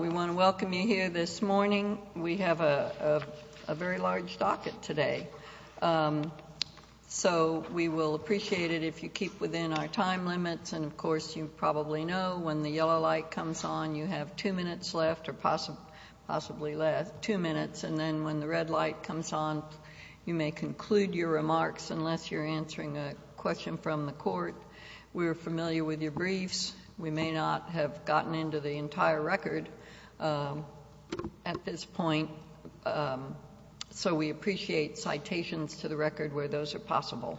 We want to welcome you here this morning. We have a very large docket today. So we will appreciate it if you keep within our time limits. And, of course, you probably know when the yellow light comes on, you have two minutes left or possibly less, two minutes. And then when the red light comes on, you may conclude your remarks unless you're answering a question from the court. We're familiar with your briefs. We may not have gotten into the entire record at this point. So we appreciate citations to the record where those are possible.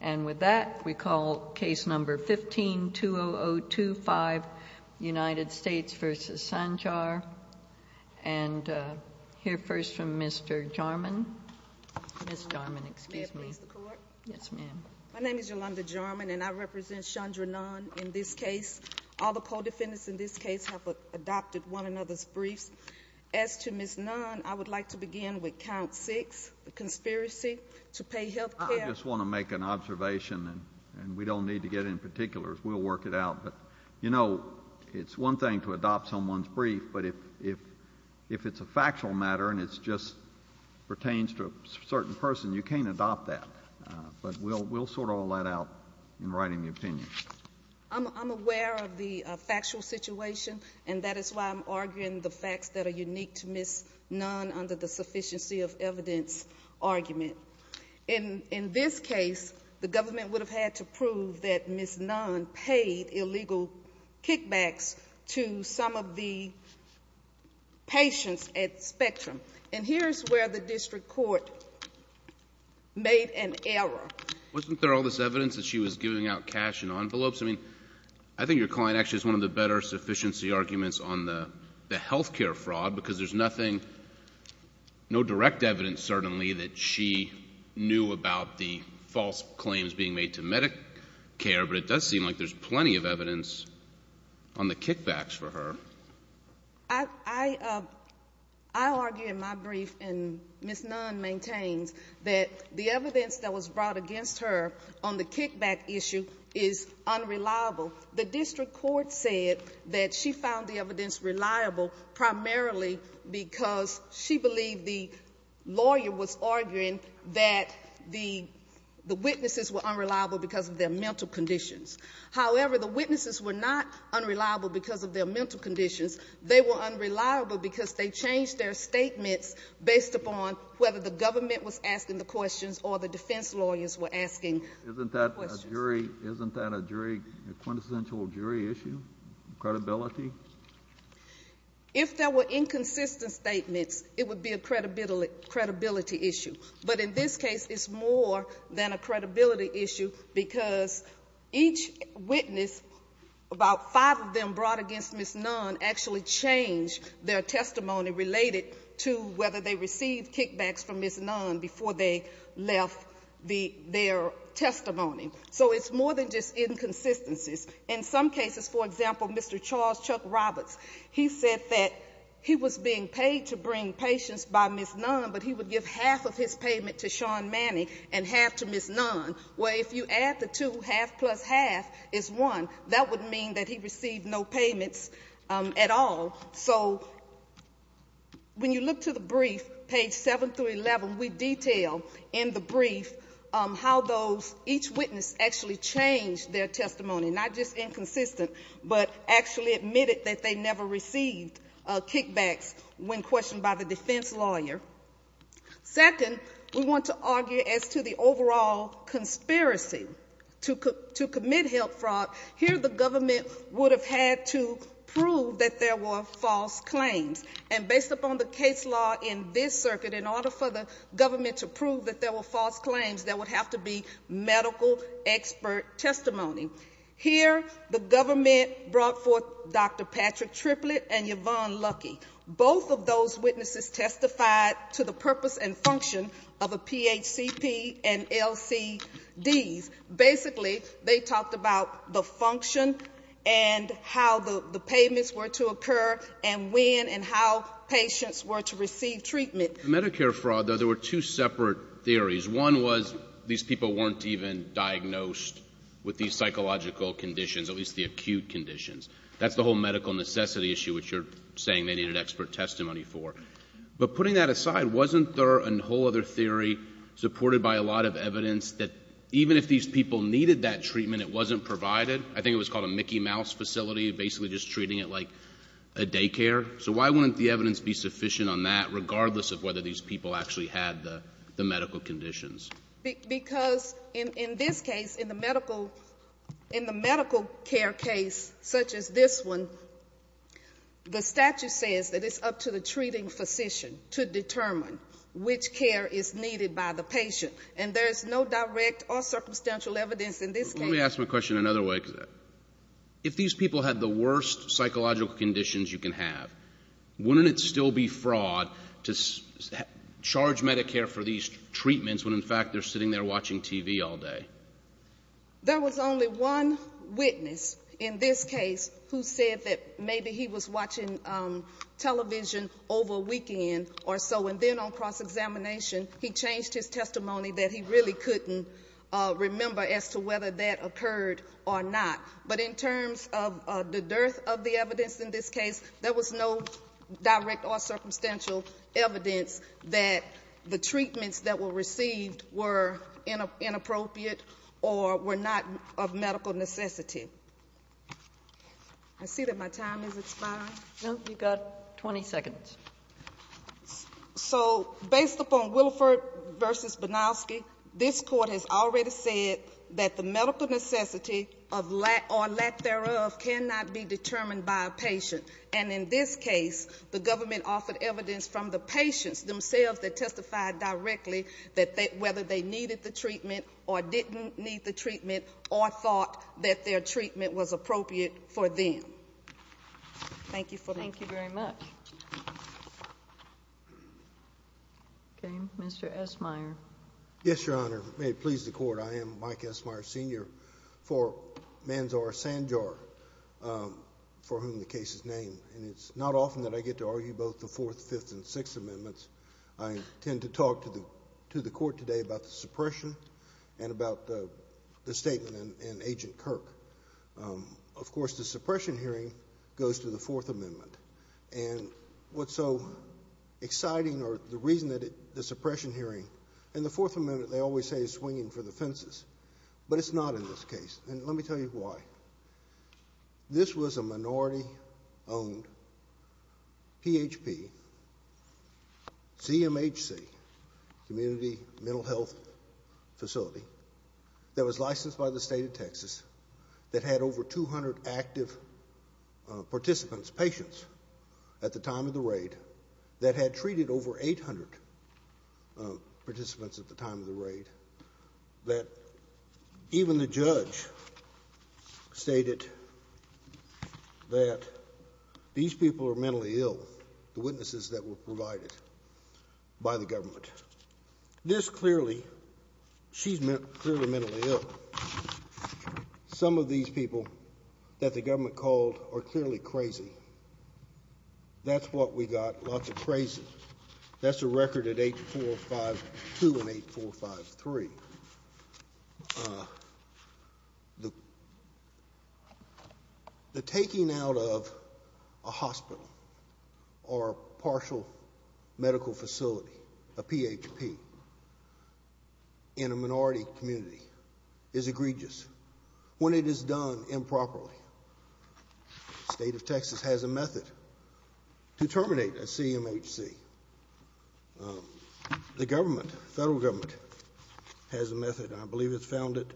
And with that, we call case number 15-20025, United States v. Sanjar. And hear first from Mr. Jarman. Ms. Jarman, excuse me. May I please the court? Yes, ma'am. My name is Yolanda Jarman, and I represent Chandra Nunn in this case. All the co-defendants in this case have adopted one another's briefs. As to Ms. Nunn, I would like to begin with count six, the conspiracy to pay health care. I just want to make an observation, and we don't need to get in particular. We'll work it out. But, you know, it's one thing to adopt someone's brief, but if it's a factual matter and it just pertains to a certain person, you can't adopt that. But we'll sort all that out in writing the opinion. I'm aware of the factual situation, and that is why I'm arguing the facts that are unique to Ms. Nunn under the sufficiency of evidence argument. In this case, the government would have had to prove that Ms. Nunn paid illegal kickbacks to some of the patients at Spectrum. And here's where the district court made an error. Wasn't there all this evidence that she was giving out cash in envelopes? I mean, I think your client actually has one of the better sufficiency arguments on the health care fraud because there's nothing, no direct evidence certainly that she knew about the false claims being made to Medicare, but it does seem like there's plenty of evidence on the kickbacks for her. I argue in my brief, and Ms. Nunn maintains, that the evidence that was brought against her on the kickback issue is unreliable. The district court said that she found the evidence reliable primarily because she believed the lawyer was arguing that the witnesses were unreliable because of their mental conditions. However, the witnesses were not unreliable because of their mental conditions. They were unreliable because they changed their statements based upon whether the government was asking the questions or the defense lawyers were asking the questions. Isn't that a jury, a quintessential jury issue, credibility? If there were inconsistent statements, it would be a credibility issue. But in this case, it's more than a credibility issue because each witness, about five of them brought against Ms. Nunn, actually changed their testimony related to whether they received kickbacks from Ms. Nunn before they left their testimony. So it's more than just inconsistencies. In some cases, for example, Mr. Charles Chuck Roberts, he said that he was being paid to bring patients by Ms. Nunn, but he would give half of his payment to Sean Manning and half to Ms. Nunn. Well, if you add the two, half plus half is one. That would mean that he received no payments at all. So when you look to the brief, page 7 through 11, we detail in the brief how each witness actually changed their testimony, not just inconsistent, but actually admitted that they never received kickbacks when questioned by the defense lawyer. Second, we want to argue as to the overall conspiracy to commit health fraud. Here the government would have had to prove that there were false claims. And based upon the case law in this circuit, in order for the government to prove that there were false claims, there would have to be medical expert testimony. Here the government brought forth Dr. Patrick Triplett and Yvonne Lucky. Both of those witnesses testified to the purpose and function of a PHCP and LCDs. Basically, they talked about the function and how the payments were to occur and when and how patients were to receive treatment. With Medicare fraud, though, there were two separate theories. One was these people weren't even diagnosed with these psychological conditions, at least the acute conditions. That's the whole medical necessity issue, which you're saying they needed expert testimony for. But putting that aside, wasn't there a whole other theory supported by a lot of evidence that even if these people needed that treatment, it wasn't provided? I think it was called a Mickey Mouse facility, basically just treating it like a daycare. So why wouldn't the evidence be sufficient on that regardless of whether these people actually had the medical conditions? Because in this case, in the medical care case such as this one, the statute says that it's up to the treating physician to determine which care is needed by the patient. And there's no direct or circumstantial evidence in this case. Let me ask my question another way. If these people had the worst psychological conditions you can have, wouldn't it still be fraud to charge Medicare for these treatments when, in fact, they're sitting there watching TV all day? There was only one witness in this case who said that maybe he was watching television over a weekend or so. And then on cross-examination, he changed his testimony that he really couldn't remember as to whether that occurred or not. But in terms of the dearth of the evidence in this case, there was no direct or circumstantial evidence that the treatments that were received were inappropriate or were not of medical necessity. I see that my time has expired. No, you've got 20 seconds. So, based upon Wilford v. Banowski, this court has already said that the medical necessity or lack thereof cannot be determined by a patient. And in this case, the government offered evidence from the patients themselves that testified directly that whether they needed the treatment or didn't need the treatment or thought that their treatment was appropriate for them. Thank you for that. Thank you very much. Okay. Mr. Esmeyer. Yes, Your Honor. May it please the Court, I am Mike Esmeyer, Sr. for Manzar Sanjar, for whom the case is named. And it's not often that I get to argue both the Fourth, Fifth, and Sixth Amendments. I intend to talk to the Court today about the suppression and about the statement in Agent Kirk. Of course, the suppression hearing goes to the Fourth Amendment. And what's so exciting or the reason that the suppression hearing and the Fourth Amendment, they always say, is swinging for the fences. But it's not in this case. And let me tell you why. This was a minority-owned PHP, CMHC, Community Mental Health Facility, that was licensed by the State of Texas, that had over 200 active participants, patients, at the time of the raid, that had treated over 800 participants at the time of the raid, that even the judge stated that these people are mentally ill, the witnesses that were provided by the government. This clearly, she's clearly mentally ill. Some of these people that the government called are clearly crazy. That's what we got, lots of crazy. That's a record at 8452 and 8453. The taking out of a hospital or partial medical facility, a PHP, in a minority community is egregious. When it is done improperly, the State of Texas has a method to terminate a CMHC. The government, federal government, has a method. I believe it's found at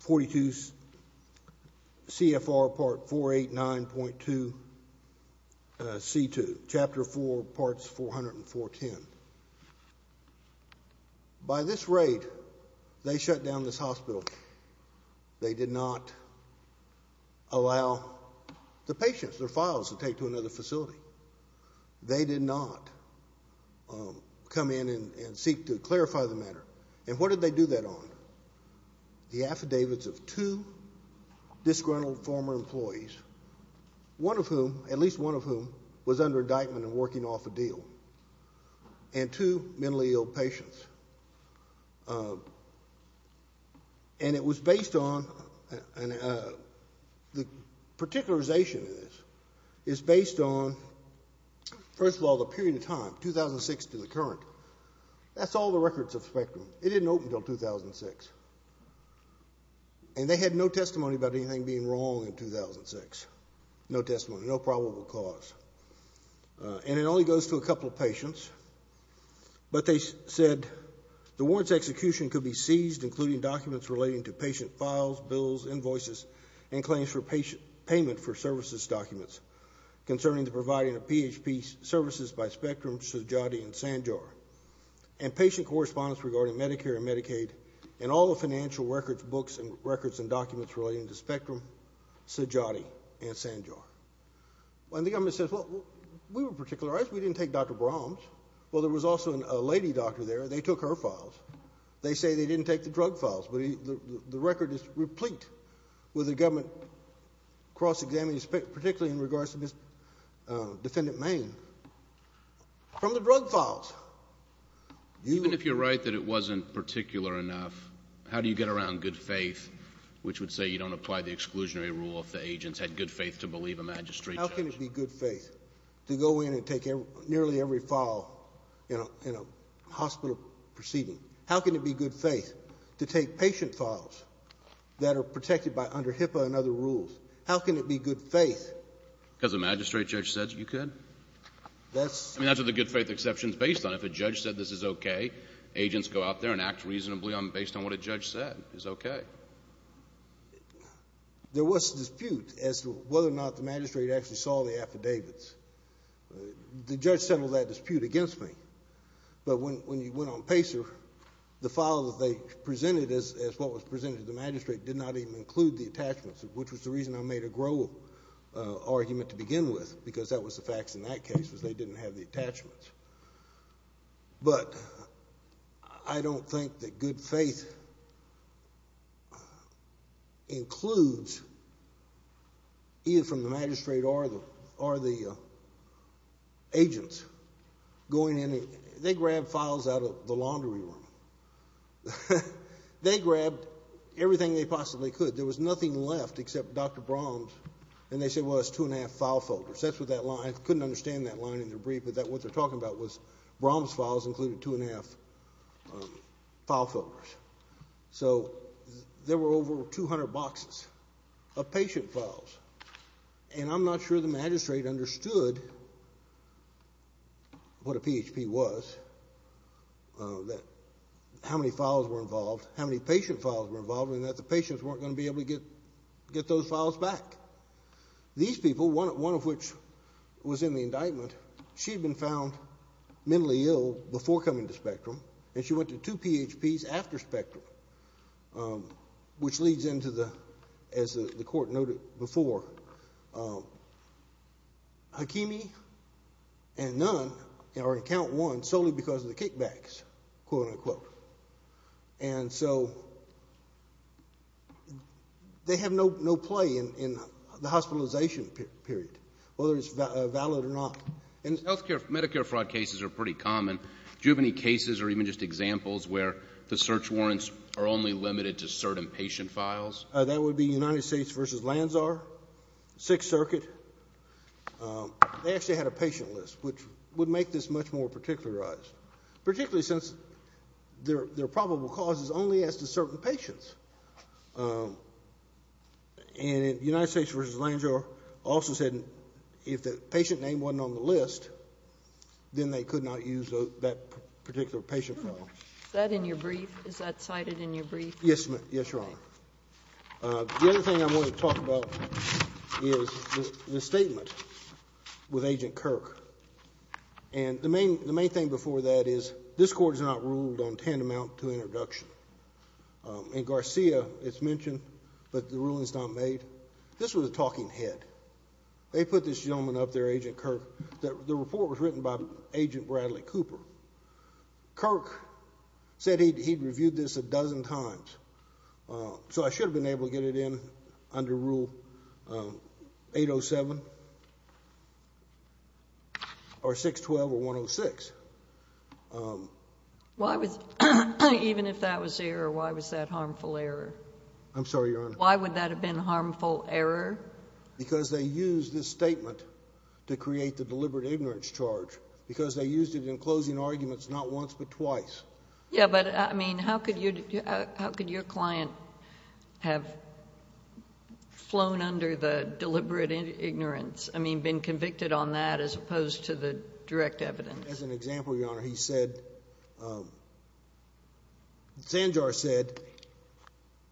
42 CFR Part 489.2 C2, Chapter 4, Parts 400 and 410. By this raid, they shut down this hospital. They did not allow the patients, their files, to take to another facility. They did not come in and seek to clarify the matter. And what did they do that on? The affidavits of two disgruntled former employees, one of whom, at least one of whom, was under indictment and working off a deal. And two mentally ill patients. And it was based on, the particularization of this is based on, first of all, the period of time, 2006 to the current. That's all the records of Spectrum. It didn't open until 2006. And they had no testimony about anything being wrong in 2006. No testimony, no probable cause. And it only goes to a couple of patients. But they said, the warrant's execution could be seized, including documents relating to patient files, bills, invoices, and claims for payment for services documents concerning the providing of PHP services by Spectrum, Sujati, and Sanjar, and patient correspondence regarding Medicare and Medicaid, and all the financial records, books, and records and documents relating to Spectrum, Sujati, and Sanjar. And the government says, well, we were particularized. We didn't take Dr. Brahms. Well, there was also a lady doctor there. They took her files. They say they didn't take the drug files. But the record is replete with the government cross-examining, particularly in regards to Ms. Defendant Maine, from the drug files. Even if you're right that it wasn't particular enough, how do you get around good faith, which would say you don't apply the exclusionary rule if the agents had good faith to believe a magistrate judge? How can it be good faith to go in and take nearly every file in a hospital proceeding? How can it be good faith to take patient files that are protected under HIPAA and other rules? How can it be good faith? Because a magistrate judge said you could? That's… I mean, that's what the good faith exception is based on. If a judge said this is okay, agents go out there and act reasonably based on what a judge said is okay. Now, there was a dispute as to whether or not the magistrate actually saw the affidavits. The judge settled that dispute against me. But when you went on PACER, the files that they presented as what was presented to the magistrate did not even include the attachments, which was the reason I made a Grohl argument to begin with, because that was the facts in that case, was they didn't have the attachments. But I don't think that good faith includes either from the magistrate or the agents going in. They grabbed files out of the laundry room. They grabbed everything they possibly could. There was nothing left except Dr. Brom's, and they said, well, it's two and a half file folders. I couldn't understand that line in their brief, but what they're talking about was Brom's files included two and a half file folders. So there were over 200 boxes of patient files, and I'm not sure the magistrate understood what a PHP was, how many files were involved, how many patient files were involved, and that the patients weren't going to be able to get those files back. These people, one of which was in the indictment, she had been found mentally ill before coming to Spectrum, and she went to two PHPs after Spectrum, which leads into the, as the court noted before, Hakimi and Nunn are in count one solely because of the kickbacks, quote, unquote. And so they have no play in the hospitalization period, whether it's valid or not. In health care, Medicare fraud cases are pretty common. Do you have any cases or even just examples where the search warrants are only limited to certain patient files? That would be United States v. Lanzar, Sixth Circuit. They actually had a patient list, which would make this much more particularized, particularly since their probable cause is only as to certain patients. And United States v. Lanzar also said if the patient name wasn't on the list, then they could not use that particular patient file. Is that in your brief? Is that cited in your brief? Yes, Your Honor. The other thing I want to talk about is the statement with Agent Kirk. And the main thing before that is this Court has not ruled on tantamount to introduction. In Garcia, it's mentioned, but the ruling's not made. This was a talking head. They put this gentleman up there, Agent Kirk, that the report was written by Agent Bradley Cooper. Kirk said he'd reviewed this a dozen times. So I should have been able to get it in under Rule 807 or 612 or 106. Even if that was error, why was that harmful error? I'm sorry, Your Honor. Why would that have been a harmful error? Because they used this statement to create the deliberate ignorance charge, because they used it in closing arguments not once but twice. Yeah, but, I mean, how could your client have flown under the deliberate ignorance? I mean, been convicted on that as opposed to the direct evidence? As an example, Your Honor, he said, Sanjar said,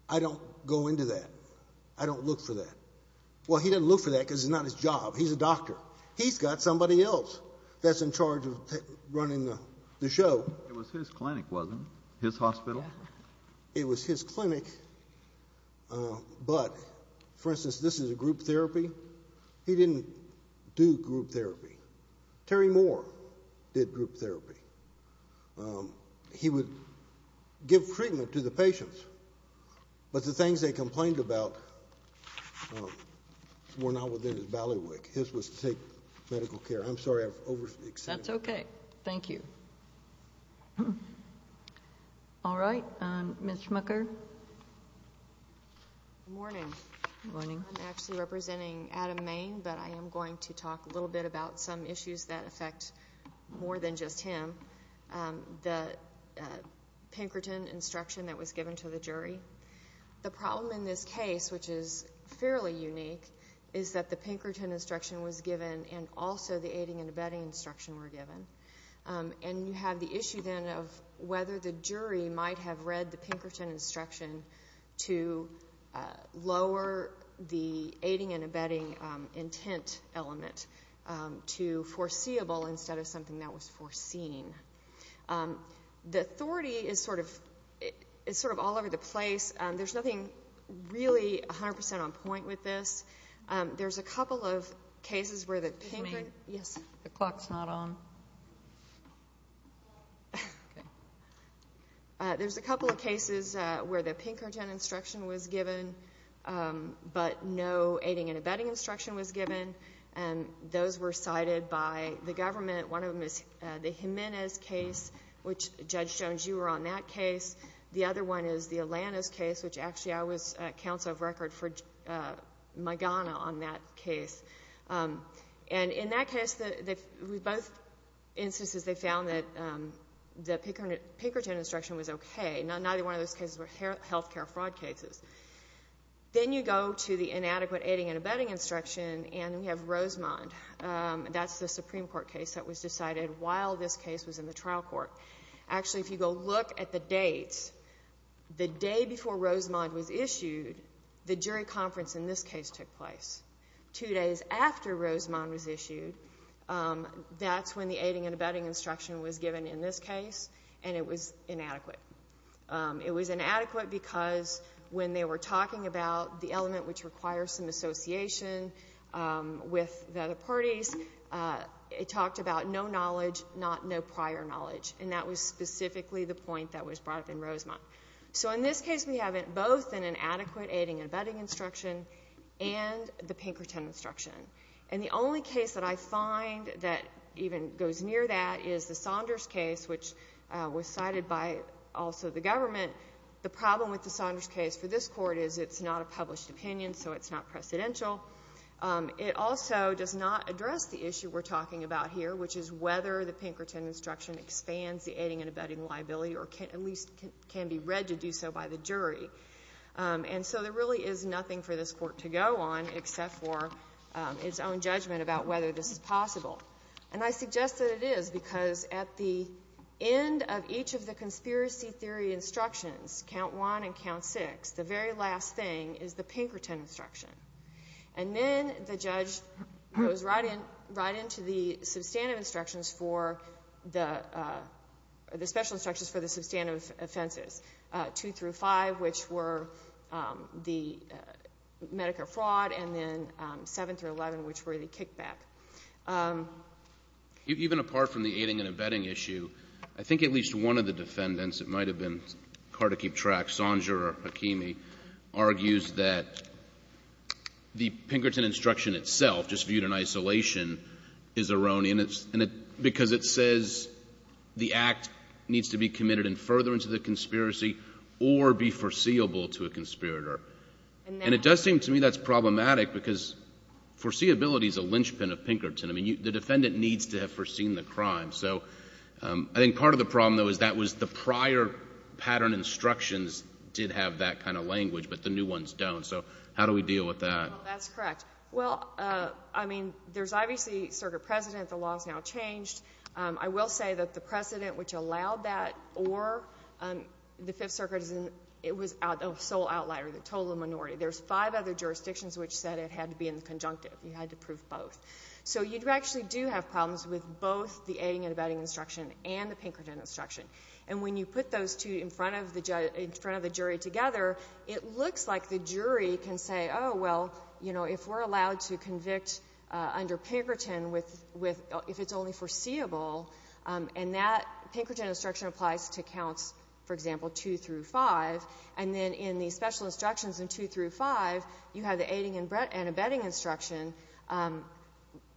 I don't go into that. I don't look for that. Well, he didn't look for that because it's not his job. He's a doctor. He's got somebody else that's in charge of running the show. It was his clinic, wasn't it, his hospital? It was his clinic, but, for instance, this is a group therapy. He didn't do group therapy. Terry Moore did group therapy. He would give treatment to the patients, but the things they complained about were not within his ballywick. His was to take medical care. I'm sorry, I've overstated. That's okay. Thank you. All right, Ms. Schmucker. Good morning. Good morning. I'm actually representing Adam Main, but I am going to talk a little bit about some issues that affect more than just him. The Pinkerton instruction that was given to the jury, the problem in this case, which is fairly unique, is that the Pinkerton instruction was given and also the aiding and abetting instruction were given. And you have the issue then of whether the jury might have read the Pinkerton instruction to lower the aiding and abetting intent element to foreseeable instead of something that was foreseen. The authority is sort of all over the place. There's nothing really 100% on point with this. There's a couple of cases where the Pinkerton instruction was given, but no aiding and abetting instruction was given. And those were cited by the government. One of them is the Jimenez case, which, Judge Jones, you were on that case. The other one is the Alanis case, which, actually, I was counsel of record for Magana on that case. And in that case, with both instances, they found that the Pinkerton instruction was okay. Neither one of those cases were health care fraud cases. Then you go to the inadequate aiding and abetting instruction, and we have Rosemond. That's the Supreme Court case that was decided while this case was in the trial court. Actually, if you go look at the dates, the day before Rosemond was issued, the jury conference in this case took place. Two days after Rosemond was issued, that's when the aiding and abetting instruction was given in this case, and it was inadequate. It was inadequate because when they were talking about the element which requires some association with the other parties, it talked about no knowledge, not no prior knowledge. And that was specifically the point that was brought up in Rosemond. So in this case, we have it both in inadequate aiding and abetting instruction and the Pinkerton instruction. And the only case that I find that even goes near that is the Saunders case, which was cited by also the government. The problem with the Saunders case for this court is it's not a published opinion, so it's not precedential. It also does not address the issue we're talking about here, which is whether the Pinkerton instruction expands the aiding and abetting liability or at least can be read to do so by the jury. And so there really is nothing for this court to go on except for its own judgment about whether this is possible. And I suggest that it is because at the end of each of the conspiracy theory instructions, count one and count six, the very last thing is the Pinkerton instruction. And then the judge goes right into the substantive instructions for the special instructions for the substantive offenses, two through five, which were the Medicare fraud, and then seven through 11, which were the kickback. Even apart from the aiding and abetting issue, I think at least one of the defendants, it might have been hard to keep track, Sondra or Hakimi, argues that the Pinkerton instruction itself, just viewed in isolation, is erroneous because it says the act needs to be committed and further into the conspiracy or be foreseeable to a conspirator. And it does seem to me that's problematic because foreseeability is a linchpin of Pinkerton. I mean, the defendant needs to have foreseen the crime. So I think part of the problem, though, is that was the prior pattern instructions did have that kind of language, but the new ones don't. So how do we deal with that? That's correct. Well, I mean, there's obviously circuit precedent. The law has now changed. I will say that the precedent which allowed that or the Fifth Circuit, it was a sole outlier, the total minority. There's five other jurisdictions which said it had to be in the conjunctive. You had to prove both. So you actually do have problems with both the aiding and abetting instruction and the Pinkerton instruction. And when you put those two in front of the jury together, it looks like the jury can say, oh, well, you know, if we're allowed to convict under Pinkerton if it's only foreseeable, and that Pinkerton instruction applies to counts, for example, 2 through 5, and then in the special instructions in 2 through 5, you have the aiding and abetting instruction,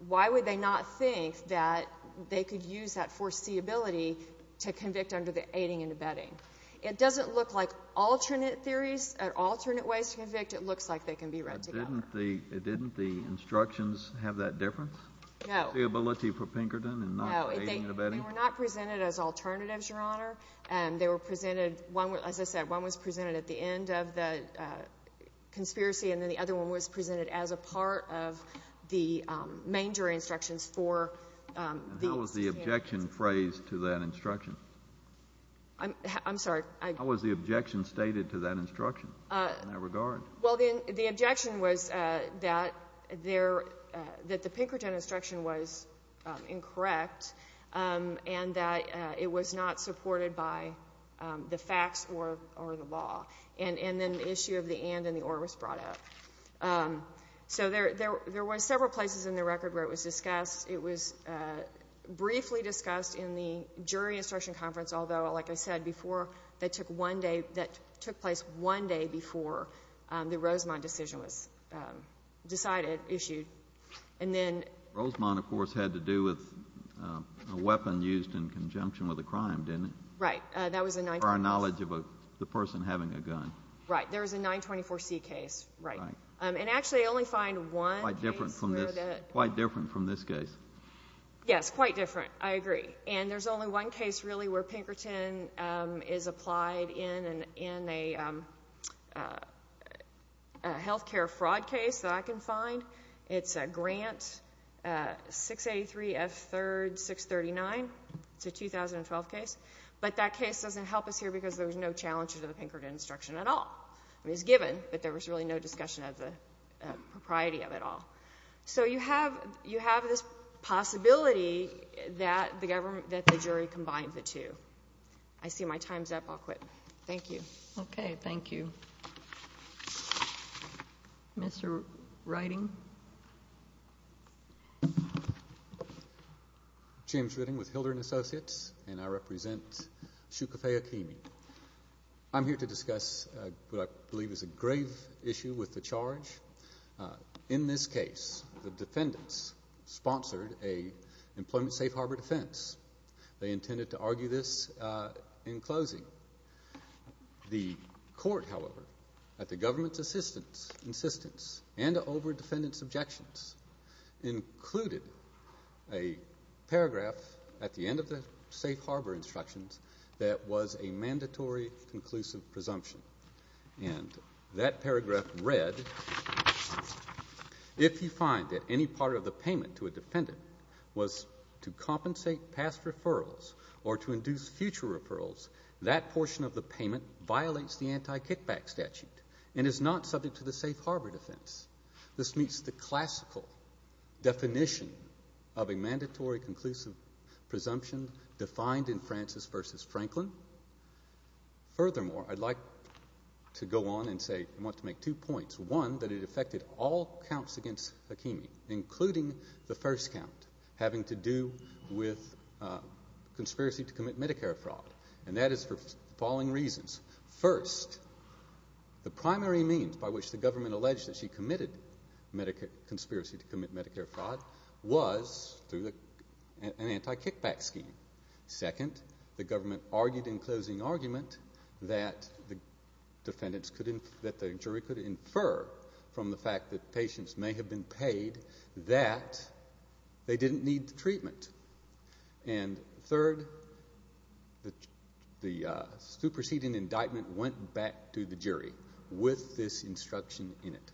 why would they not think that they could use that foreseeability to convict under the aiding and abetting? It doesn't look like alternate theories or alternate ways to convict. It looks like they can be read together. But didn't the instructions have that difference? No. Foreseeability for Pinkerton and not aiding and abetting? No. They were not presented as alternatives, Your Honor. They were presented, as I said, one was presented at the end of the conspiracy and then the other one was presented as a part of the main jury instructions for the candidates. How was the objection phrased to that instruction? I'm sorry? How was the objection stated to that instruction in that regard? Well, the objection was that the Pinkerton instruction was incorrect and that it was not supported by the facts or the law. And then the issue of the and and the or was brought up. So there were several places in the record where it was discussed. It was briefly discussed in the jury instruction conference, although, like I said before, that took place one day before the Rosemont decision was decided, issued. And then... Rosemont, of course, had to do with a weapon used in conjunction with a crime, didn't it? Right. That was a... Or a knowledge of the person having a gun. Right. There was a 924C case. Right. And actually, I only find one case... Quite different from this case. Yes, quite different. I agree. And there's only one case, really, where Pinkerton is applied in a health care fraud case that I can find. It's a Grant 683F3-639. It's a 2012 case. But that case doesn't help us here because there was no challenge to the Pinkerton instruction at all. It was given, but there was really no discussion of the propriety of it all. So, you have this possibility that the jury combined the two. I see my time's up. I'll quit. Thank you. Okay. Thank you. Mr. Riding? James Riding with Hildren Associates, and I represent Shukafei Akemi. I'm here to discuss what I believe is a grave issue with the charge. In this case, the defendants sponsored an employment safe harbor defense. They intended to argue this in closing. The court, however, at the government's insistence and over defendants' objections, included a paragraph at the end of the safe harbor instructions that was a mandatory conclusive presumption. And that paragraph read, if you find that any part of the payment to a defendant was to compensate past referrals or to induce future referrals, that portion of the payment violates the anti-kickback statute and is not subject to the safe harbor defense. This meets the classical definition of a mandatory conclusive presumption defined in Francis v. Franklin. Furthermore, I'd like to go on and say I want to make two points. One, that it affected all counts against Akemi, including the first count, having to do with conspiracy to commit Medicare fraud. And that is for the following reasons. First, the primary means by which the government alleged that she committed conspiracy to commit Medicare fraud was through an anti-kickback scheme. Second, the government argued in closing argument that the jury could infer from the fact that patients may have been paid that they didn't need the treatment. And third, the superseding indictment went back to the jury with this instruction in it.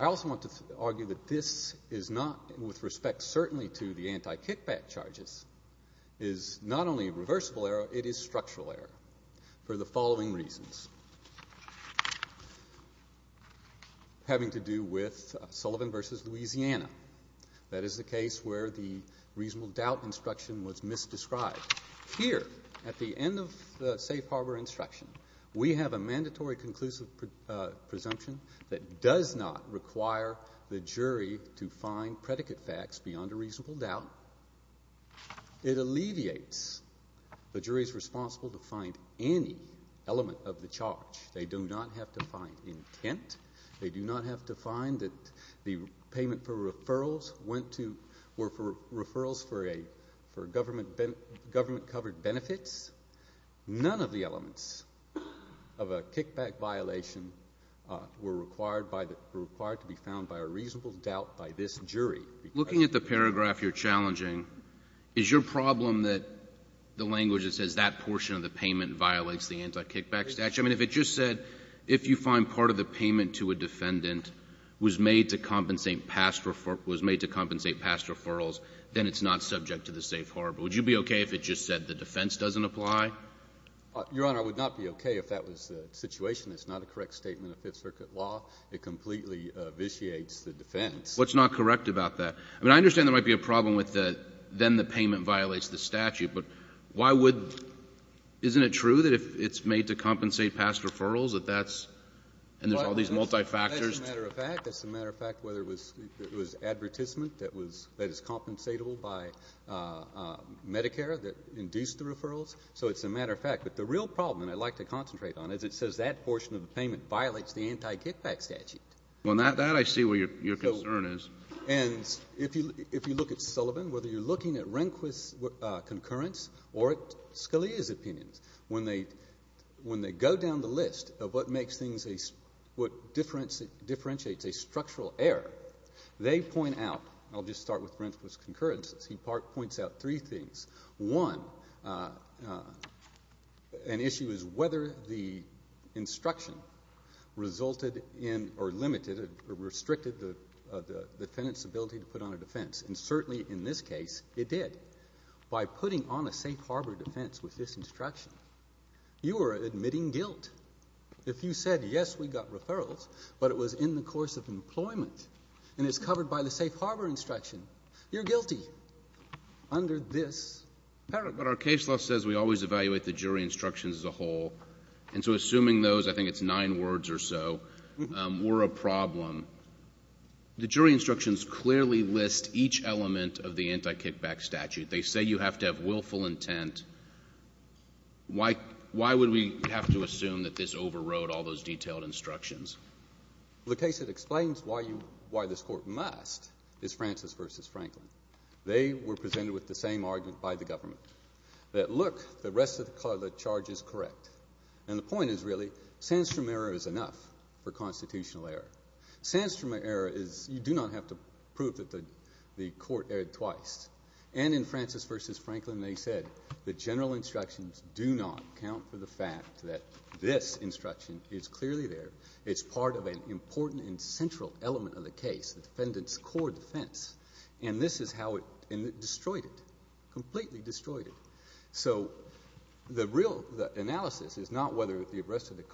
I also want to argue that this is not, with respect certainly to the anti-kickback charges, is not only a reversible error, it is structural error for the following reasons, having to do with Sullivan v. Louisiana. That is the case where the reasonable doubt instruction was misdescribed. Here, at the end of the safe harbor instruction, we have a mandatory conclusive presumption that does not require the jury to find predicate facts beyond a reasonable doubt. It alleviates the jury's responsibility to find any element of the charge. They do not have to find intent. They do not have to find that the payment for referrals went to, were for referrals for government-covered benefits. None of the elements of a kickback violation were required to be found by a reasonable doubt by this jury. Looking at the paragraph you're challenging, is your problem that the language that says that portion of the payment violates the anti-kickback statute? I mean, if it just said, if you find part of the payment to a defendant was made to compensate past referrals, then it's not subject to the safe harbor. Would you be okay if it just said the defense doesn't apply? Your Honor, I would not be okay if that was the situation. It's not a correct statement of Fifth Circuit law. It completely vitiates the defense. What's not correct about that? I mean, I understand there might be a problem with the, then the payment violates the statute, but why would, isn't it true that if it's made to compensate past referrals that that's, and there's all these multi-factors. That's a matter of fact. That's a matter of fact whether it was advertisement that was, that is compensatable by Medicare that induced the referrals. So it's a matter of fact. But the real problem, and I'd like to concentrate on it, is it says that portion of the payment violates the anti-kickback statute. Well, that I see where your concern is. And if you look at Sullivan, whether you're looking at Rehnquist's concurrence or Scalia's opinions, when they go down the list of what makes things, what differentiates a structural error, they point out, and I'll just start with Rehnquist's concurrences, he points out three things. One, an issue is whether the instruction resulted in or limited or restricted the defendant's ability to put on a defense. And certainly in this case it did. By putting on a safe harbor defense with this instruction, you are admitting guilt. If you said, yes, we got referrals, but it was in the course of employment and it's covered by the safe harbor instruction, you're guilty. Under this paragraph. But our case law says we always evaluate the jury instructions as a whole. And so assuming those, I think it's nine words or so, were a problem, the jury instructions clearly list each element of the anti-kickback statute. They say you have to have willful intent. Why would we have to assume that this overrode all those detailed instructions? The case that explains why this Court must is Francis v. Franklin. They were presented with the same argument by the government. That look, the rest of the charge is correct. And the point is really, Sandstrom error is enough for constitutional error. Sandstrom error is you do not have to prove that the Court erred twice. And in Francis v. Franklin they said the general instructions do not count for the fact that this instruction is clearly there. It's part of an important and central element of the case, the defendant's core defense. And this is how it destroyed it, completely destroyed it. So the real analysis is not whether the rest of the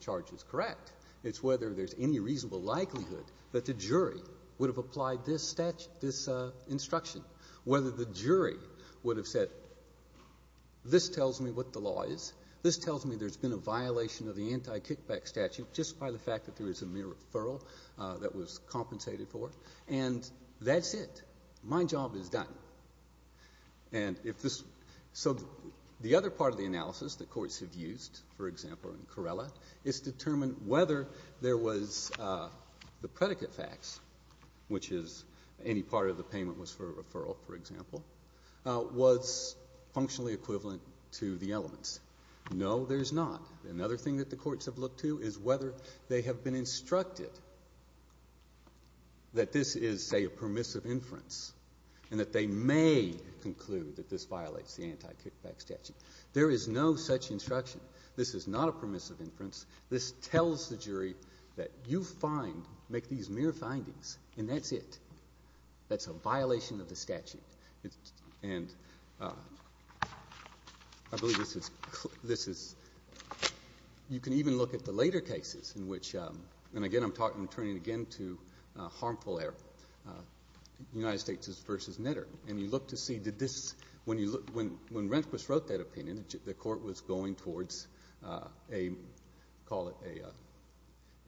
charge is correct. It's whether there's any reasonable likelihood that the jury would have applied this instruction, whether the jury would have said this tells me what the law is, this tells me there's been a violation of the anti-kickback statute just by the fact that there is a mere referral that was compensated for. And that's it. My job is done. So the other part of the analysis that courts have used, for example, in Corella, is determine whether there was the predicate facts, which is any part of the payment was for a referral, for example, was functionally equivalent to the elements. No, there's not. Another thing that the courts have looked to is whether they have been instructed that this is, say, a permissive inference and that they may conclude that this violates the anti-kickback statute. There is no such instruction. This is not a permissive inference. This tells the jury that you make these mere findings, and that's it. That's a violation of the statute. And I believe this is you can even look at the later cases in which, and again I'm turning again to harmful error, United States v. Knitter, and you look to see did this, when Rehnquist wrote that opinion, the court was going towards a, call it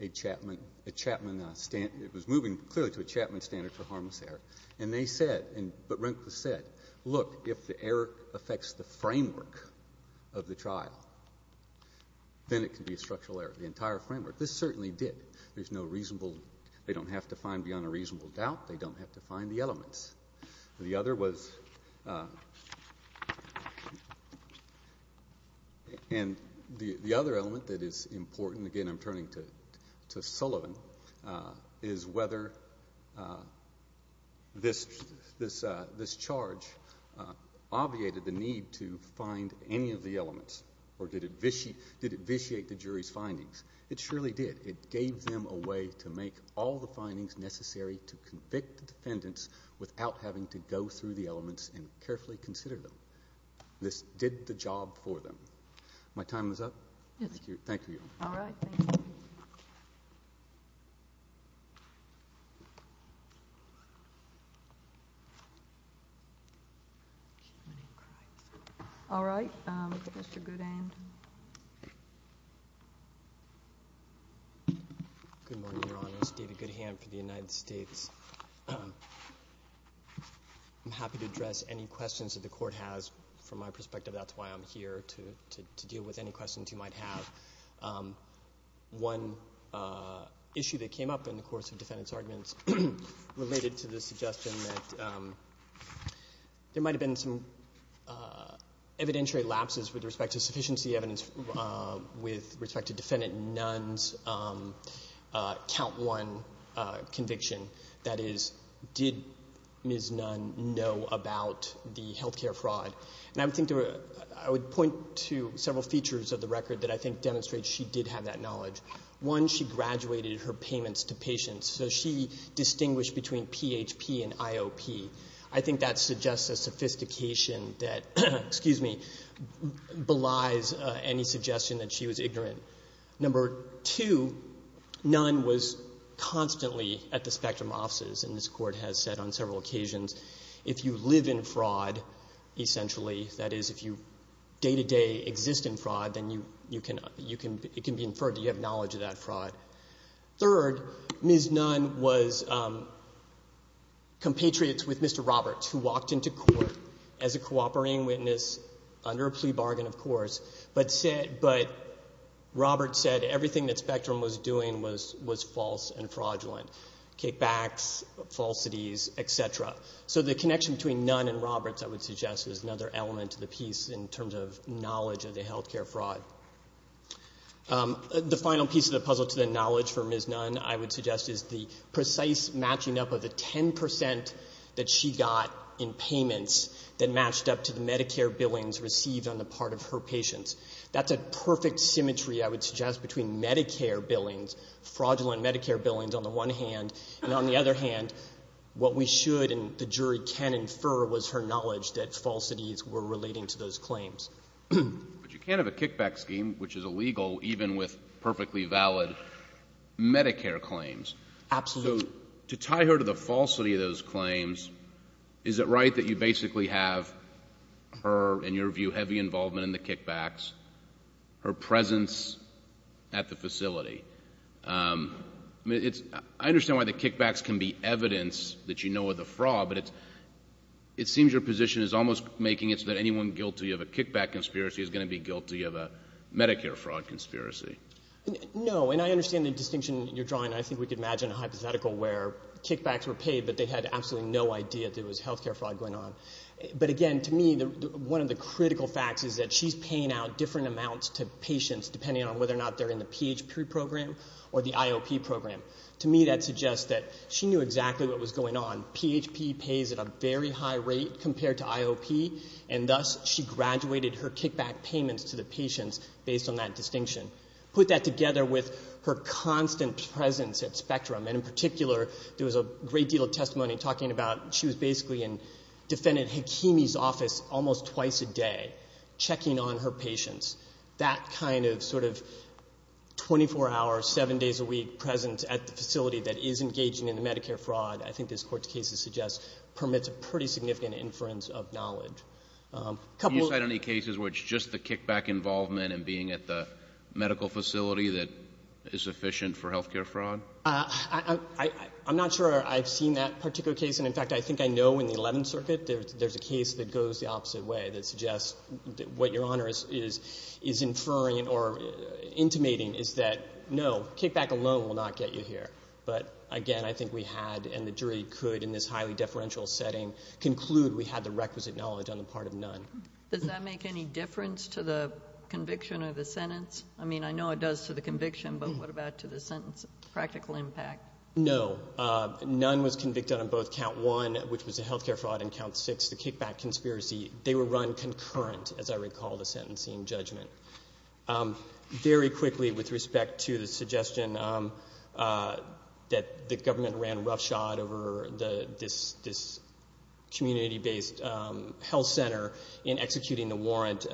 a Chapman, it was moving clearly to a Chapman standard for harmless error, and they said, but Rehnquist said, look, if the error affects the framework of the trial, then it can be a structural error, the entire framework. This certainly did. There's no reasonable, they don't have to find beyond a reasonable doubt. They don't have to find the elements. The other was, and the other element that is important, and again I'm turning to Sullivan, is whether this charge obviated the need to find any of the elements, or did it vitiate the jury's findings? It surely did. It gave them a way to make all the findings necessary to convict the defendants without having to go through the elements and carefully consider them. This did the job for them. My time is up? Yes. Thank you. All right. Mr. Goodhand. Good morning, Your Honors. David Goodhand for the United States. I'm happy to address any questions that the court has from my perspective. That's why I'm here, to deal with any questions you might have. One issue that came up in the course of defendants' arguments related to the suggestion that there might have been some evidentiary lapses with respect to sufficiency evidence with respect to defendant Nunn's count one conviction. That is, did Ms. Nunn know about the health care fraud? And I would point to several features of the record that I think demonstrate she did have that knowledge. One, she graduated her payments to patients, so she distinguished between PHP and IOP. I think that suggests a sophistication that belies any suggestion that she was ignorant. Number two, Nunn was constantly at the spectrum offices, and this court has said on several occasions, if you live in fraud, essentially, that is, if you day-to-day exist in fraud, then it can be inferred that you have knowledge of that fraud. Third, Ms. Nunn was compatriots with Mr. Roberts, who walked into court as a cooperating witness under a plea bargain, of course, but Roberts said everything that Spectrum was doing was false and fraudulent. Kickbacks, falsities, et cetera. So the connection between Nunn and Roberts, I would suggest, is another element to the piece in terms of knowledge of the health care fraud. The final piece of the puzzle to the knowledge for Ms. Nunn, I would suggest, is the precise matching up of the 10% that she got in payments that matched up to the Medicare billings received on the part of her patients. That's a perfect symmetry, I would suggest, between Medicare billings, fraudulent Medicare billings, on the one hand, and on the other hand, what we should and the jury can infer was her knowledge that falsities were relating to those claims. But you can't have a kickback scheme, which is illegal, even with perfectly valid Medicare claims. Absolutely. So to tie her to the falsity of those claims, is it right that you basically have her, in your view, heavy involvement in the kickbacks, her presence at the facility? I understand why the kickbacks can be evidence that you know of the fraud, but it seems your position is almost making it so that anyone guilty of a kickback conspiracy is going to be guilty of a Medicare fraud conspiracy. No, and I understand the distinction you're drawing, and I think we could imagine a hypothetical where kickbacks were paid but they had absolutely no idea there was health care fraud going on. But again, to me, one of the critical facts is that she's paying out different amounts to patients depending on whether or not they're in the PHP program or the IOP program. To me, that suggests that she knew exactly what was going on. PHP pays at a very high rate compared to IOP, and thus she graduated her kickback payments to the patients based on that distinction. Put that together with her constant presence at Spectrum, and in particular, there was a great deal of testimony talking about she was basically in Defendant Hakimi's office almost twice a day checking on her patients. That kind of sort of 24 hours, 7 days a week, present at the facility that is engaging in the Medicare fraud, I think this Court's case suggests permits a pretty significant inference of knowledge. Can you cite any cases where it's just the kickback involvement and being at the medical facility that is sufficient for health care fraud? I'm not sure I've seen that particular case, and in fact I think I know in the Eleventh Circuit there's a case that goes the opposite way that suggests what Your Honor is inferring or intimating is that no, kickback alone will not get you here. But again, I think we had, and the jury could in this highly deferential setting, conclude we had the requisite knowledge on the part of none. Does that make any difference to the conviction or the sentence? I mean, I know it does to the conviction, but what about to the sentence? Practical impact? No. None was convicted on both Count 1, which was the health care fraud, and Count 6, the kickback conspiracy. They were run concurrent, as I recall, to sentencing and judgment. Very quickly, with respect to the suggestion that the government ran roughshod over this community-based health center in executing the warrant,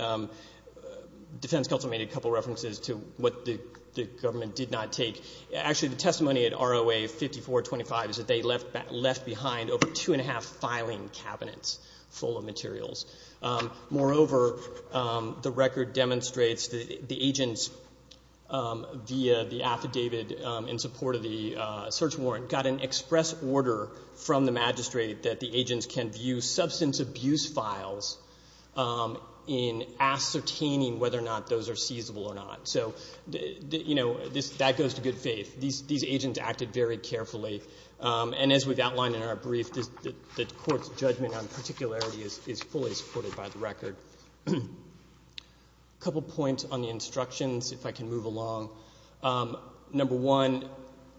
defense counsel made a couple of references to what the government did not take. Actually, the testimony at ROA 5425 is that they left behind over two and a half filing cabinets full of materials. Moreover, the record demonstrates the agents via the affidavit in support of the search warrant got an express order from the magistrate that the agents can view substance abuse files in ascertaining whether or not those are seizable or not. So, you know, that goes to good faith. These agents acted very carefully, and as we've outlined in our brief, the court's judgment on particularity is fully supported by the record. A couple points on the instructions, if I can move along. Number one,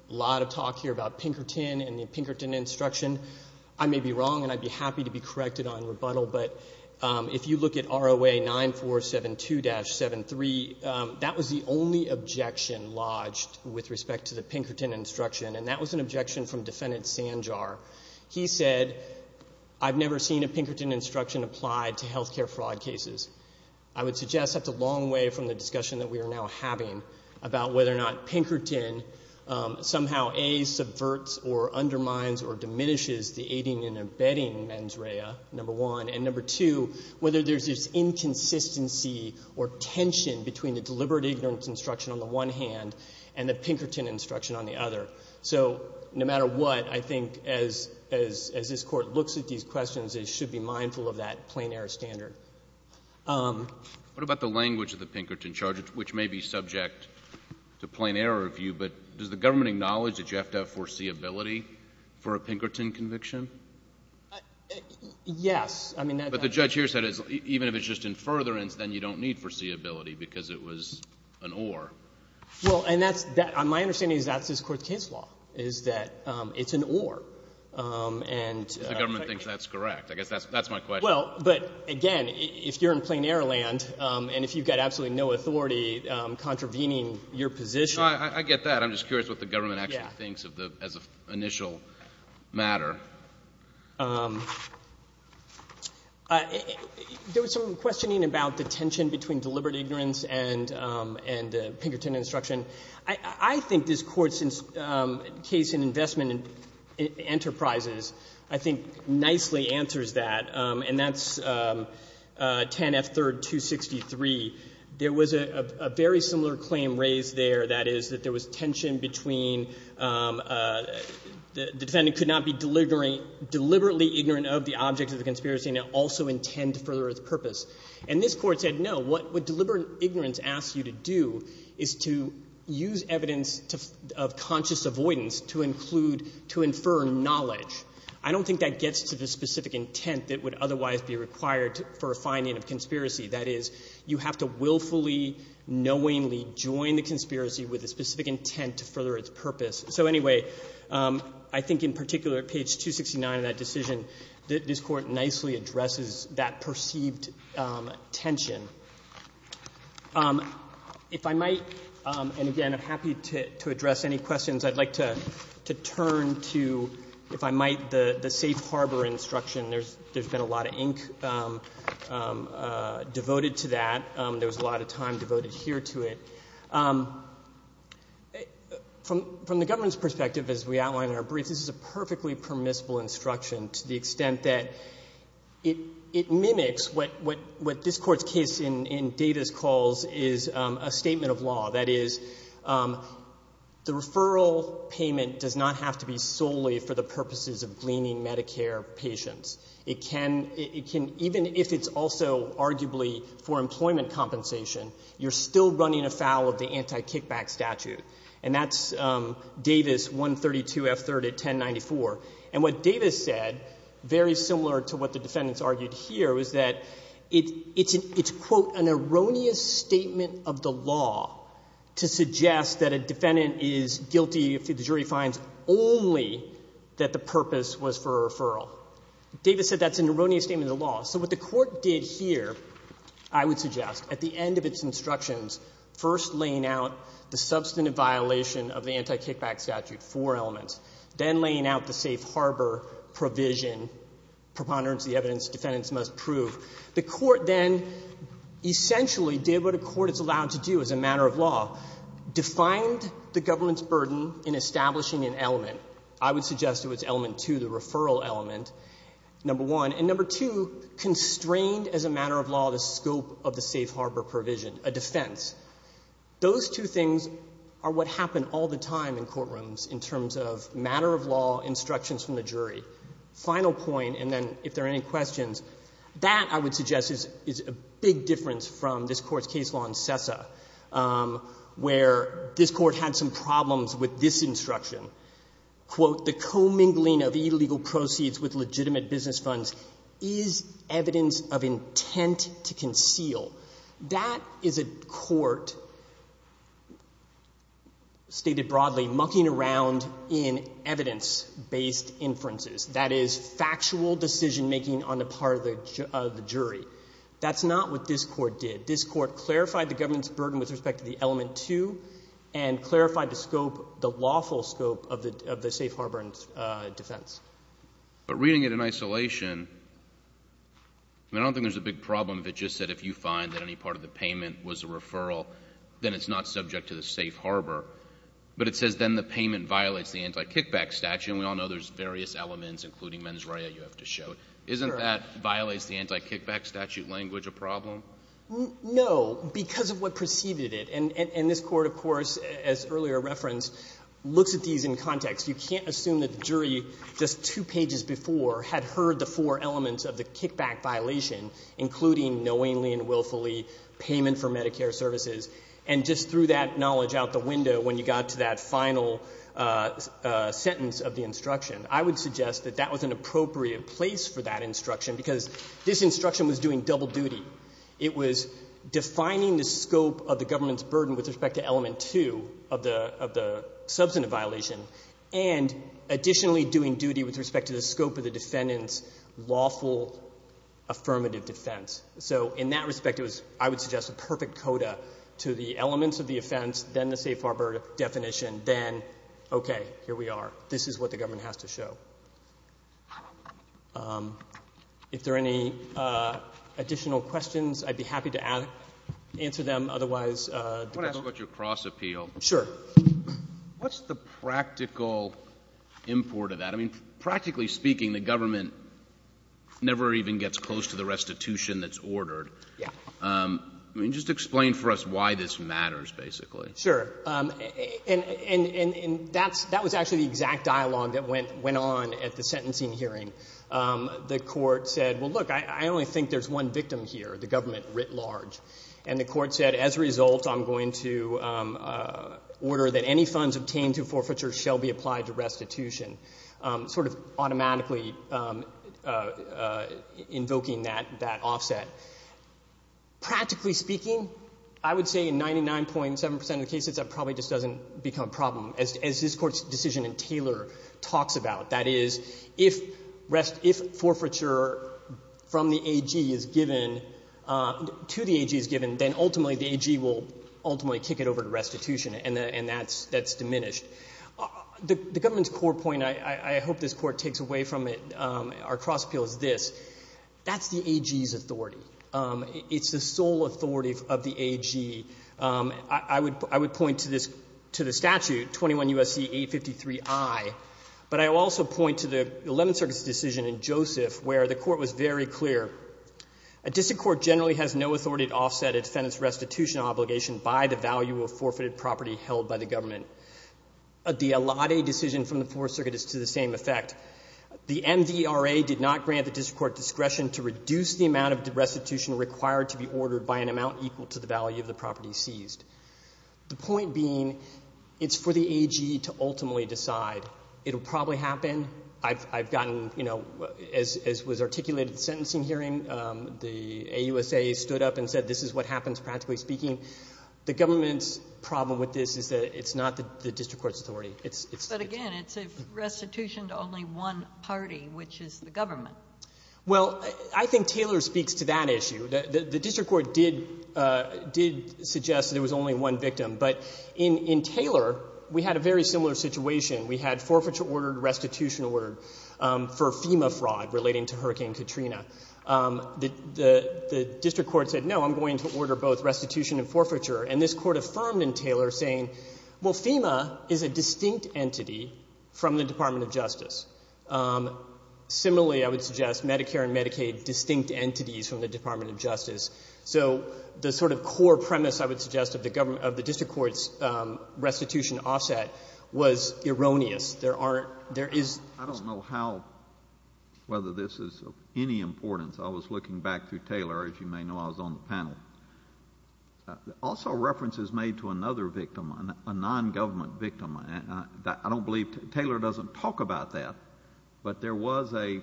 a lot of talk here about Pinkerton and the Pinkerton instruction. I may be wrong, and I'd be happy to be corrected on rebuttal, but if you look at ROA 9472-73, that was the only objection lodged with respect to the Pinkerton instruction, and that was an objection from Defendant Sanjar. He said, I've never seen a Pinkerton instruction applied to health care fraud cases. I would suggest that's a long way from the discussion that we are now having about whether or not Pinkerton somehow, A, subverts or undermines or diminishes the aiding and abetting mens rea, number one, and number two, whether there's this inconsistency or tension between the deliberate ignorance instruction on the one hand and the Pinkerton instruction on the other. So no matter what, I think as this Court looks at these questions, it should be mindful of that plain error standard. What about the language of the Pinkerton charge, which may be subject to plain error of view, but does the government acknowledge that you have to have foreseeability for a Pinkerton conviction? Yes. But the judge here said even if it's just in furtherance, then you don't need foreseeability because it was an or. Well, and my understanding is that's this Court's case law, is that it's an or. If the government thinks that's correct. I guess that's my question. Well, but again, if you're in plain error land and if you've got absolutely no authority contravening your position. I get that. I'm just curious what the government actually thinks as an initial matter. There was some questioning about the tension between deliberate ignorance and Pinkerton instruction. I think this Court's case in investment enterprises, I think, nicely answers that, and that's 10 F. 3rd, 263. There was a very similar claim raised there, that is that there was tension between the defendant could not be deliberately ignorant of the object of the conspiracy and also intend to further its purpose. And this Court said, no, what deliberate ignorance asks you to do is to use evidence of conscious avoidance to include, to infer knowledge. I don't think that gets to the specific intent that would otherwise be required for a finding of conspiracy. That is, you have to willfully, knowingly join the conspiracy with a specific intent to further its purpose. So anyway, I think in particular at page 269 of that decision, this Court nicely addresses that perceived tension. If I might, and again, I'm happy to address any questions. I'd like to turn to, if I might, the safe harbor instruction. There's been a lot of ink devoted to that. There was a lot of time devoted here to it. From the government's perspective, as we outlined in our brief, this is a perfectly permissible instruction to the extent that it mimics what this Court's case in datas calls is a statement of law. That is, the referral payment does not have to be solely for the purposes of gleaning Medicare patients. It can, even if it's also arguably for employment compensation, you're still running afoul of the anti-kickback statute. And that's Davis 132 F. 3rd at 1094. And what Davis said, very similar to what the defendants argued here, was that it's, quote, an erroneous statement of the law to suggest that a defendant is guilty if the jury finds only that the purpose was for a referral. Davis said that's an erroneous statement of the law. So what the Court did here, I would suggest, at the end of its instructions, first laying out the substantive violation of the anti-kickback statute, four elements, then laying out the safe harbor provision, preponderance of the evidence defendants must prove. The Court then essentially did what a court is allowed to do as a matter of law, defined the government's burden in establishing an element. I would suggest it was element two, the referral element, number one. And number two, constrained as a matter of law the scope of the safe harbor provision, a defense. Those two things are what happen all the time in courtrooms in terms of matter of law instructions from the jury. Final point, and then if there are any questions, that, I would suggest, is a big difference from this Court's case law in CESA. Where this Court had some problems with this instruction, quote, the commingling of illegal proceeds with legitimate business funds is evidence of intent to conceal. That is a court, stated broadly, mucking around in evidence-based inferences. That is factual decision-making on the part of the jury. That's not what this Court did. This Court clarified the government's burden with respect to the element two and clarified the scope, the lawful scope, of the safe harbor and defense. But reading it in isolation, I don't think there's a big problem if it just said if you find that any part of the payment was a referral, then it's not subject to the safe harbor. But it says then the payment violates the anti-kickback statute, and we all know there's various elements, including mens rea, you have to show. Isn't that violates the anti-kickback statute language a problem? No, because of what preceded it. And this Court, of course, as earlier referenced, looks at these in context. You can't assume that the jury just two pages before had heard the four elements of the kickback violation, including knowingly and willfully payment for Medicare services, and just threw that knowledge out the window when you got to that final sentence of the instruction. I would suggest that that was an appropriate place for that instruction because this instruction was doing double duty. It was defining the scope of the government's burden with respect to element two of the substantive violation and additionally doing duty with respect to the scope of the defendant's lawful affirmative defense. So in that respect, it was, I would suggest, a perfect coda to the elements of the offense, then the safe harbor definition, then, okay, here we are. This is what the government has to show. If there are any additional questions, I'd be happy to answer them. Otherwise— I want to ask about your cross appeal. Sure. What's the practical import of that? I mean, practically speaking, the government never even gets close to the restitution that's ordered. Yeah. I mean, just explain for us why this matters, basically. Sure. And that was actually the exact dialogue that went on at the sentencing hearing. The court said, well, look, I only think there's one victim here, the government writ large. And the court said, as a result, I'm going to order that any funds obtained through forfeiture shall be applied to restitution, sort of automatically invoking that offset. Practically speaking, I would say in 99.7% of the cases, that probably just doesn't become a problem, as this Court's decision in Taylor talks about. That is, if forfeiture from the AG is given, to the AG is given, then ultimately the AG will ultimately kick it over to restitution, and that's diminished. The government's core point, I hope this Court takes away from it, our cross appeal is this. That's the AG's authority. It's the sole authority of the AG. I would point to the statute, 21 U.S.C. 853i, but I also point to the Eleventh Circuit's decision in Joseph where the court was very clear. A district court generally has no authority to offset a defendant's restitution obligation by the value of forfeited property held by the government. The Allotte decision from the Fourth Circuit is to the same effect. The MVRA did not grant the district court discretion to reduce the amount of restitution required to be ordered by an amount equal to the value of the property seized. The point being, it's for the AG to ultimately decide. It will probably happen. I've gotten, you know, as was articulated in the sentencing hearing, the AUSA stood up and said this is what happens, practically speaking. The government's problem with this is that it's not the district court's authority. But again, it's a restitution to only one party, which is the government. Well, I think Taylor speaks to that issue. The district court did suggest that it was only one victim. But in Taylor, we had a very similar situation. We had forfeiture ordered, restitution ordered for FEMA fraud relating to Hurricane Katrina. The district court said, no, I'm going to order both restitution and forfeiture. And this Court affirmed in Taylor saying, well, FEMA is a distinct entity from the Department of Justice. Similarly, I would suggest Medicare and Medicaid, distinct entities from the Department of Justice. So the sort of core premise, I would suggest, of the district court's restitution offset was erroneous. There aren't, there is. I don't know how, whether this is of any importance. I was looking back through Taylor, as you may know, I was on the panel. Also references made to another victim, a nongovernment victim. I don't believe, Taylor doesn't talk about that. But there was a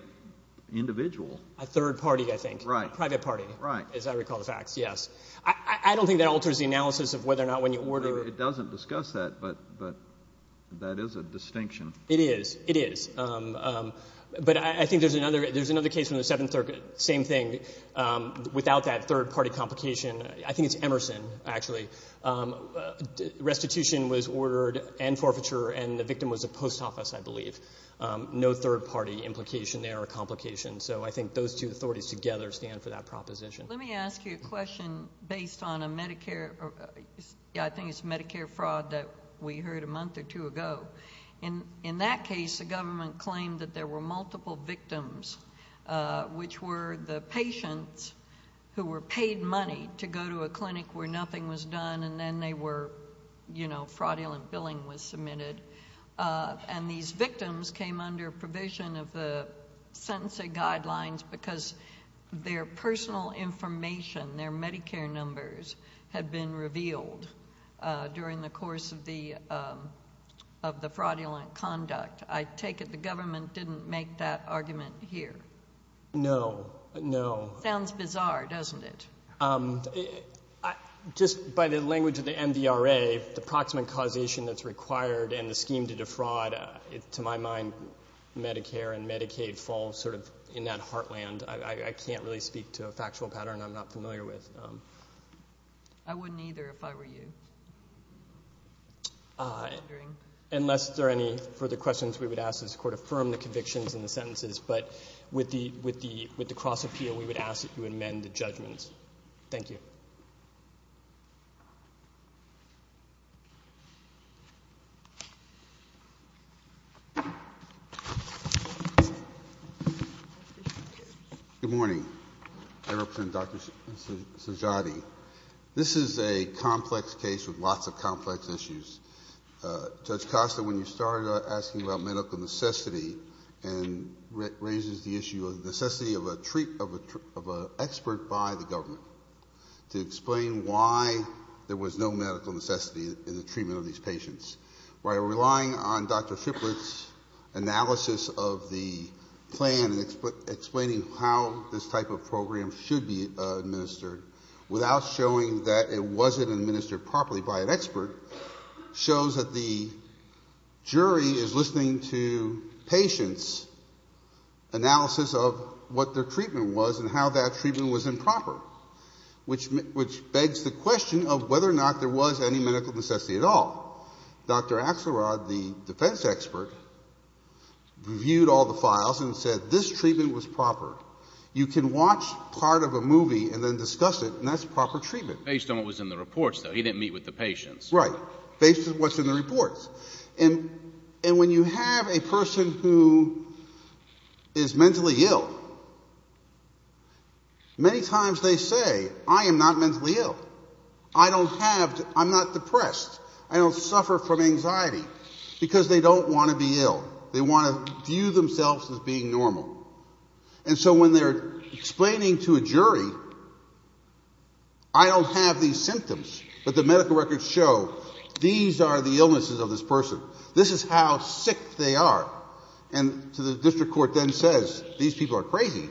individual. A third party, I think. Right. A private party. Right. As I recall the facts, yes. I don't think that alters the analysis of whether or not when you order. It doesn't discuss that, but that is a distinction. It is. It is. But I think there's another case from the Seventh Circuit, same thing, without that third party complication. I think it's Emerson, actually. Restitution was ordered and forfeiture, and the victim was a post office, I believe. No third party implication there or complication. So I think those two authorities together stand for that proposition. Let me ask you a question based on a Medicare, I think it's Medicare fraud that we heard a month or two ago. In that case, the government claimed that there were multiple victims, which were the patients who were paid money to go to a clinic where nothing was done, and then fraudulent billing was submitted. And these victims came under provision of the sentencing guidelines because their personal information, their Medicare numbers, had been revealed during the course of the fraudulent conduct. I take it the government didn't make that argument here. No. No. Sounds bizarre, doesn't it? Just by the language of the MVRA, the proximate causation that's required and the scheme to defraud, to my mind, Medicare and Medicaid fall sort of in that heartland. I can't really speak to a factual pattern I'm not familiar with. I wouldn't either if I were you. Unless there are any further questions we would ask, this Court affirmed the convictions in the sentences, but with the cross appeal we would ask that you amend the judgments. Thank you. Thank you. Good morning. I represent Dr. Sajjadi. This is a complex case with lots of complex issues. Judge Costa, when you started asking about medical necessity, and it raises the issue of the necessity of an expert by the government to explain why there was no medical necessity in the treatment of these patients. By relying on Dr. Shiplett's analysis of the plan and explaining how this type of program should be administered without showing that it wasn't administered properly by an expert, shows that the jury is listening to patients' analysis of what their treatment was and how that treatment was improper, which begs the question of whether or not there was any medical necessity at all. Dr. Axelrod, the defense expert, reviewed all the files and said this treatment was proper. You can watch part of a movie and then discuss it, and that's proper treatment. Based on what was in the reports, though. He didn't meet with the patients. Right. Based on what's in the reports. And when you have a person who is mentally ill, many times they say, I am not mentally ill. I don't have to – I'm not depressed. I don't suffer from anxiety. Because they don't want to be ill. They want to view themselves as being normal. And so when they're explaining to a jury, I don't have these symptoms, but the medical records show these are the illnesses of this person. This is how sick they are. And to the district court then says, these people are crazy.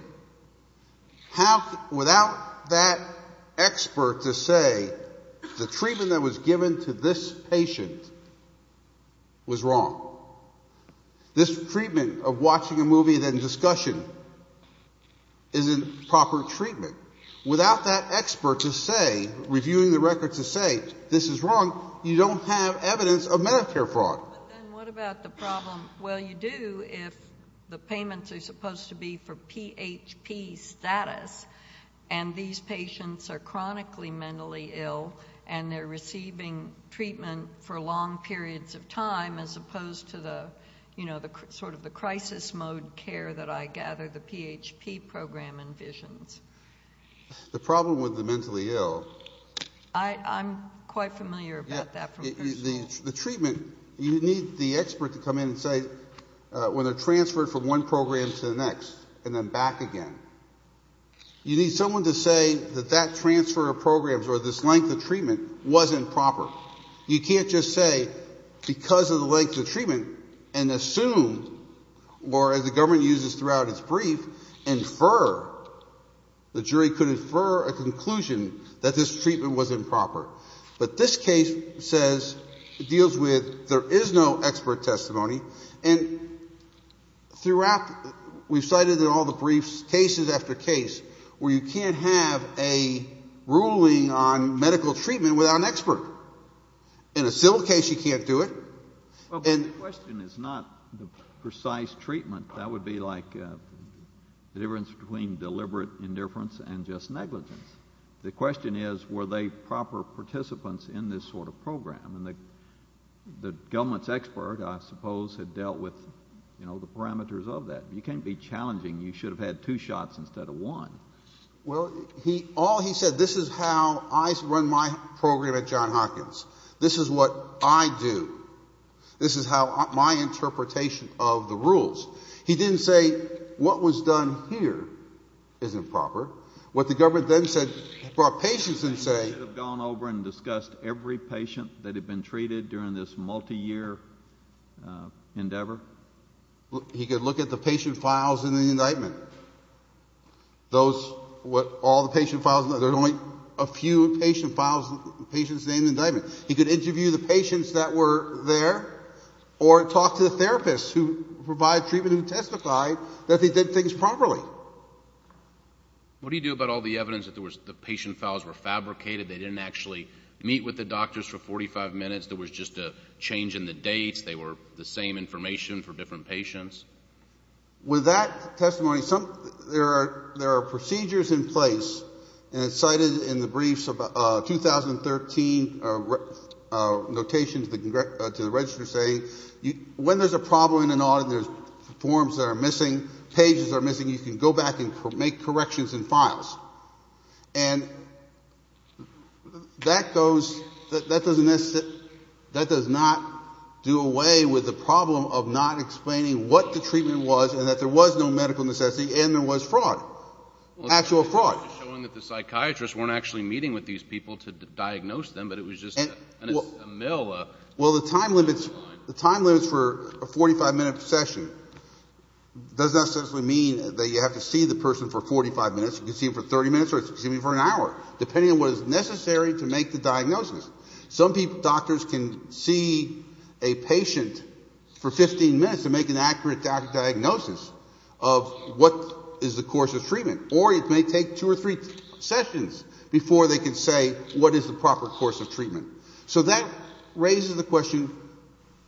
Without that expert to say the treatment that was given to this patient was wrong. This treatment of watching a movie and then discussion isn't proper treatment. Without that expert to say, reviewing the records to say this is wrong, you don't have evidence of Medicare fraud. But then what about the problem? Well, you do if the payments are supposed to be for PHP status, and these patients are chronically mentally ill, and they're receiving treatment for long periods of time as opposed to the sort of the crisis mode care that I gather the PHP program envisions. The problem with the mentally ill. I'm quite familiar about that. The treatment, you need the expert to come in and say, when they're transferred from one program to the next and then back again. You need someone to say that that transfer of programs or this length of treatment wasn't proper. Now, you can't just say because of the length of treatment and assume, or as the government uses throughout its brief, infer. The jury could infer a conclusion that this treatment was improper. But this case says, deals with, there is no expert testimony. And throughout, we've cited in all the briefs, cases after case, where you can't have a ruling on medical treatment without an expert. In a civil case, you can't do it. Well, the question is not the precise treatment. That would be like the difference between deliberate indifference and just negligence. The question is, were they proper participants in this sort of program? And the government's expert, I suppose, had dealt with the parameters of that. You can't be challenging. You should have had two shots instead of one. Well, all he said, this is how I run my program at John Hopkins. This is what I do. This is my interpretation of the rules. He didn't say what was done here is improper. What the government then said, brought patients and say. They should have gone over and discussed every patient that had been treated during this multiyear endeavor. He could look at the patient files in the indictment. Those were all the patient files. There's only a few patient files, patients named in indictment. He could interview the patients that were there or talk to the therapists who provide treatment and testify that they did things properly. What do you do about all the evidence that the patient files were fabricated, they didn't actually meet with the doctors for 45 minutes, there was just a change in the dates, they were the same information for different patients? With that testimony, there are procedures in place, and it's cited in the briefs of 2013 notations to the register saying, when there's a problem in an audit, there's forms that are missing, pages are missing, you can go back and make corrections in files. And that goes, that doesn't necessarily, that does not do away with the problem of not explaining what the treatment was and that there was no medical necessity and there was fraud, actual fraud. The psychiatrist weren't actually meeting with these people to diagnose them, but it was just a mill. Well, the time limits for a 45-minute session does not necessarily mean that you have to see the person for 45 minutes. You can see them for 30 minutes or you can see them for an hour, depending on what is necessary to make the diagnosis. Some doctors can see a patient for 15 minutes and make an accurate diagnosis of what is the course of treatment. Or it may take two or three sessions before they can say what is the proper course of treatment. So that raises the question,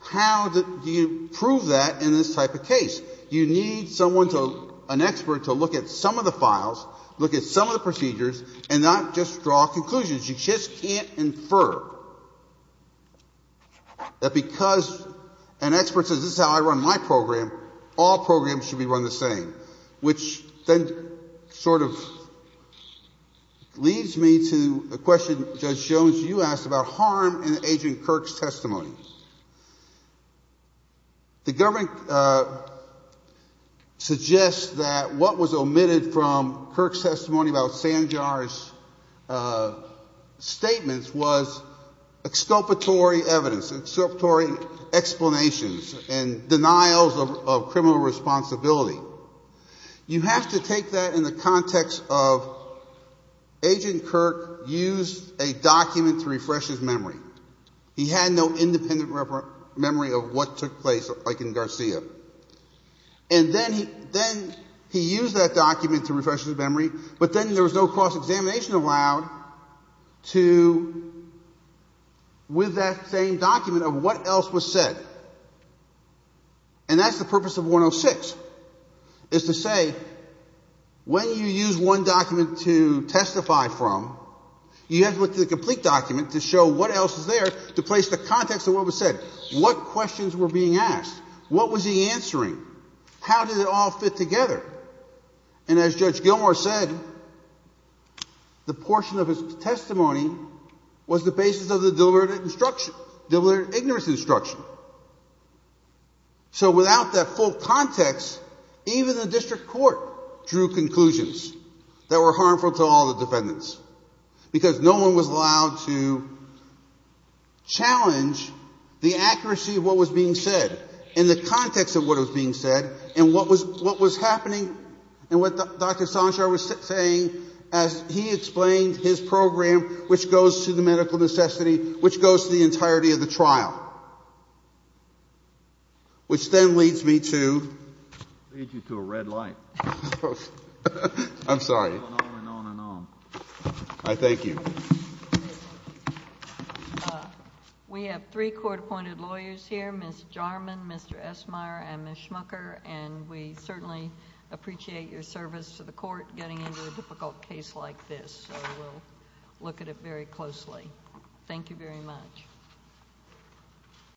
how do you prove that in this type of case? You need someone to, an expert to look at some of the files, look at some of the procedures and not just draw conclusions. You just can't infer that because an expert says this is how I run my program, all programs should be run the same, which then sort of leads me to a question Judge Jones, you asked about harm in Agent Kirk's testimony. The government suggests that what was omitted from Kirk's testimony about Sanjar's statements was exculpatory evidence, exculpatory explanations and denials of criminal responsibility. You have to take that in the context of Agent Kirk used a document to refresh his memory. He had no independent memory of what took place like in Garcia. And then he used that document to refresh his memory, but then there was no cross-examination allowed to, with that same document of what else was said. And that's the purpose of 106, is to say when you use one document to testify from, you have to look at the complete document to show what else is there to place the context of what was said. What questions were being asked? What was he answering? How did it all fit together? And as Judge Gilmour said, the portion of his testimony was the basis of the deliberate instruction, deliberate ignorance instruction. So without that full context, even the district court drew conclusions that were harmful to all the defendants because no one was allowed to challenge the accuracy of what was being said in the context of what was being said and what was happening and what Dr. Sanjar was saying as he explained his program, which goes to the medical necessity, which goes to the entirety of the trial, which then leads me to a red light. I'm sorry. On and on and on. I thank you. We have three court-appointed lawyers here, Ms. Jarman, Mr. Esmeyer, and Ms. Schmucker, and we certainly appreciate your service to the court getting into a difficult case like this, so we'll look at it very closely. Thank you very much. Thank you.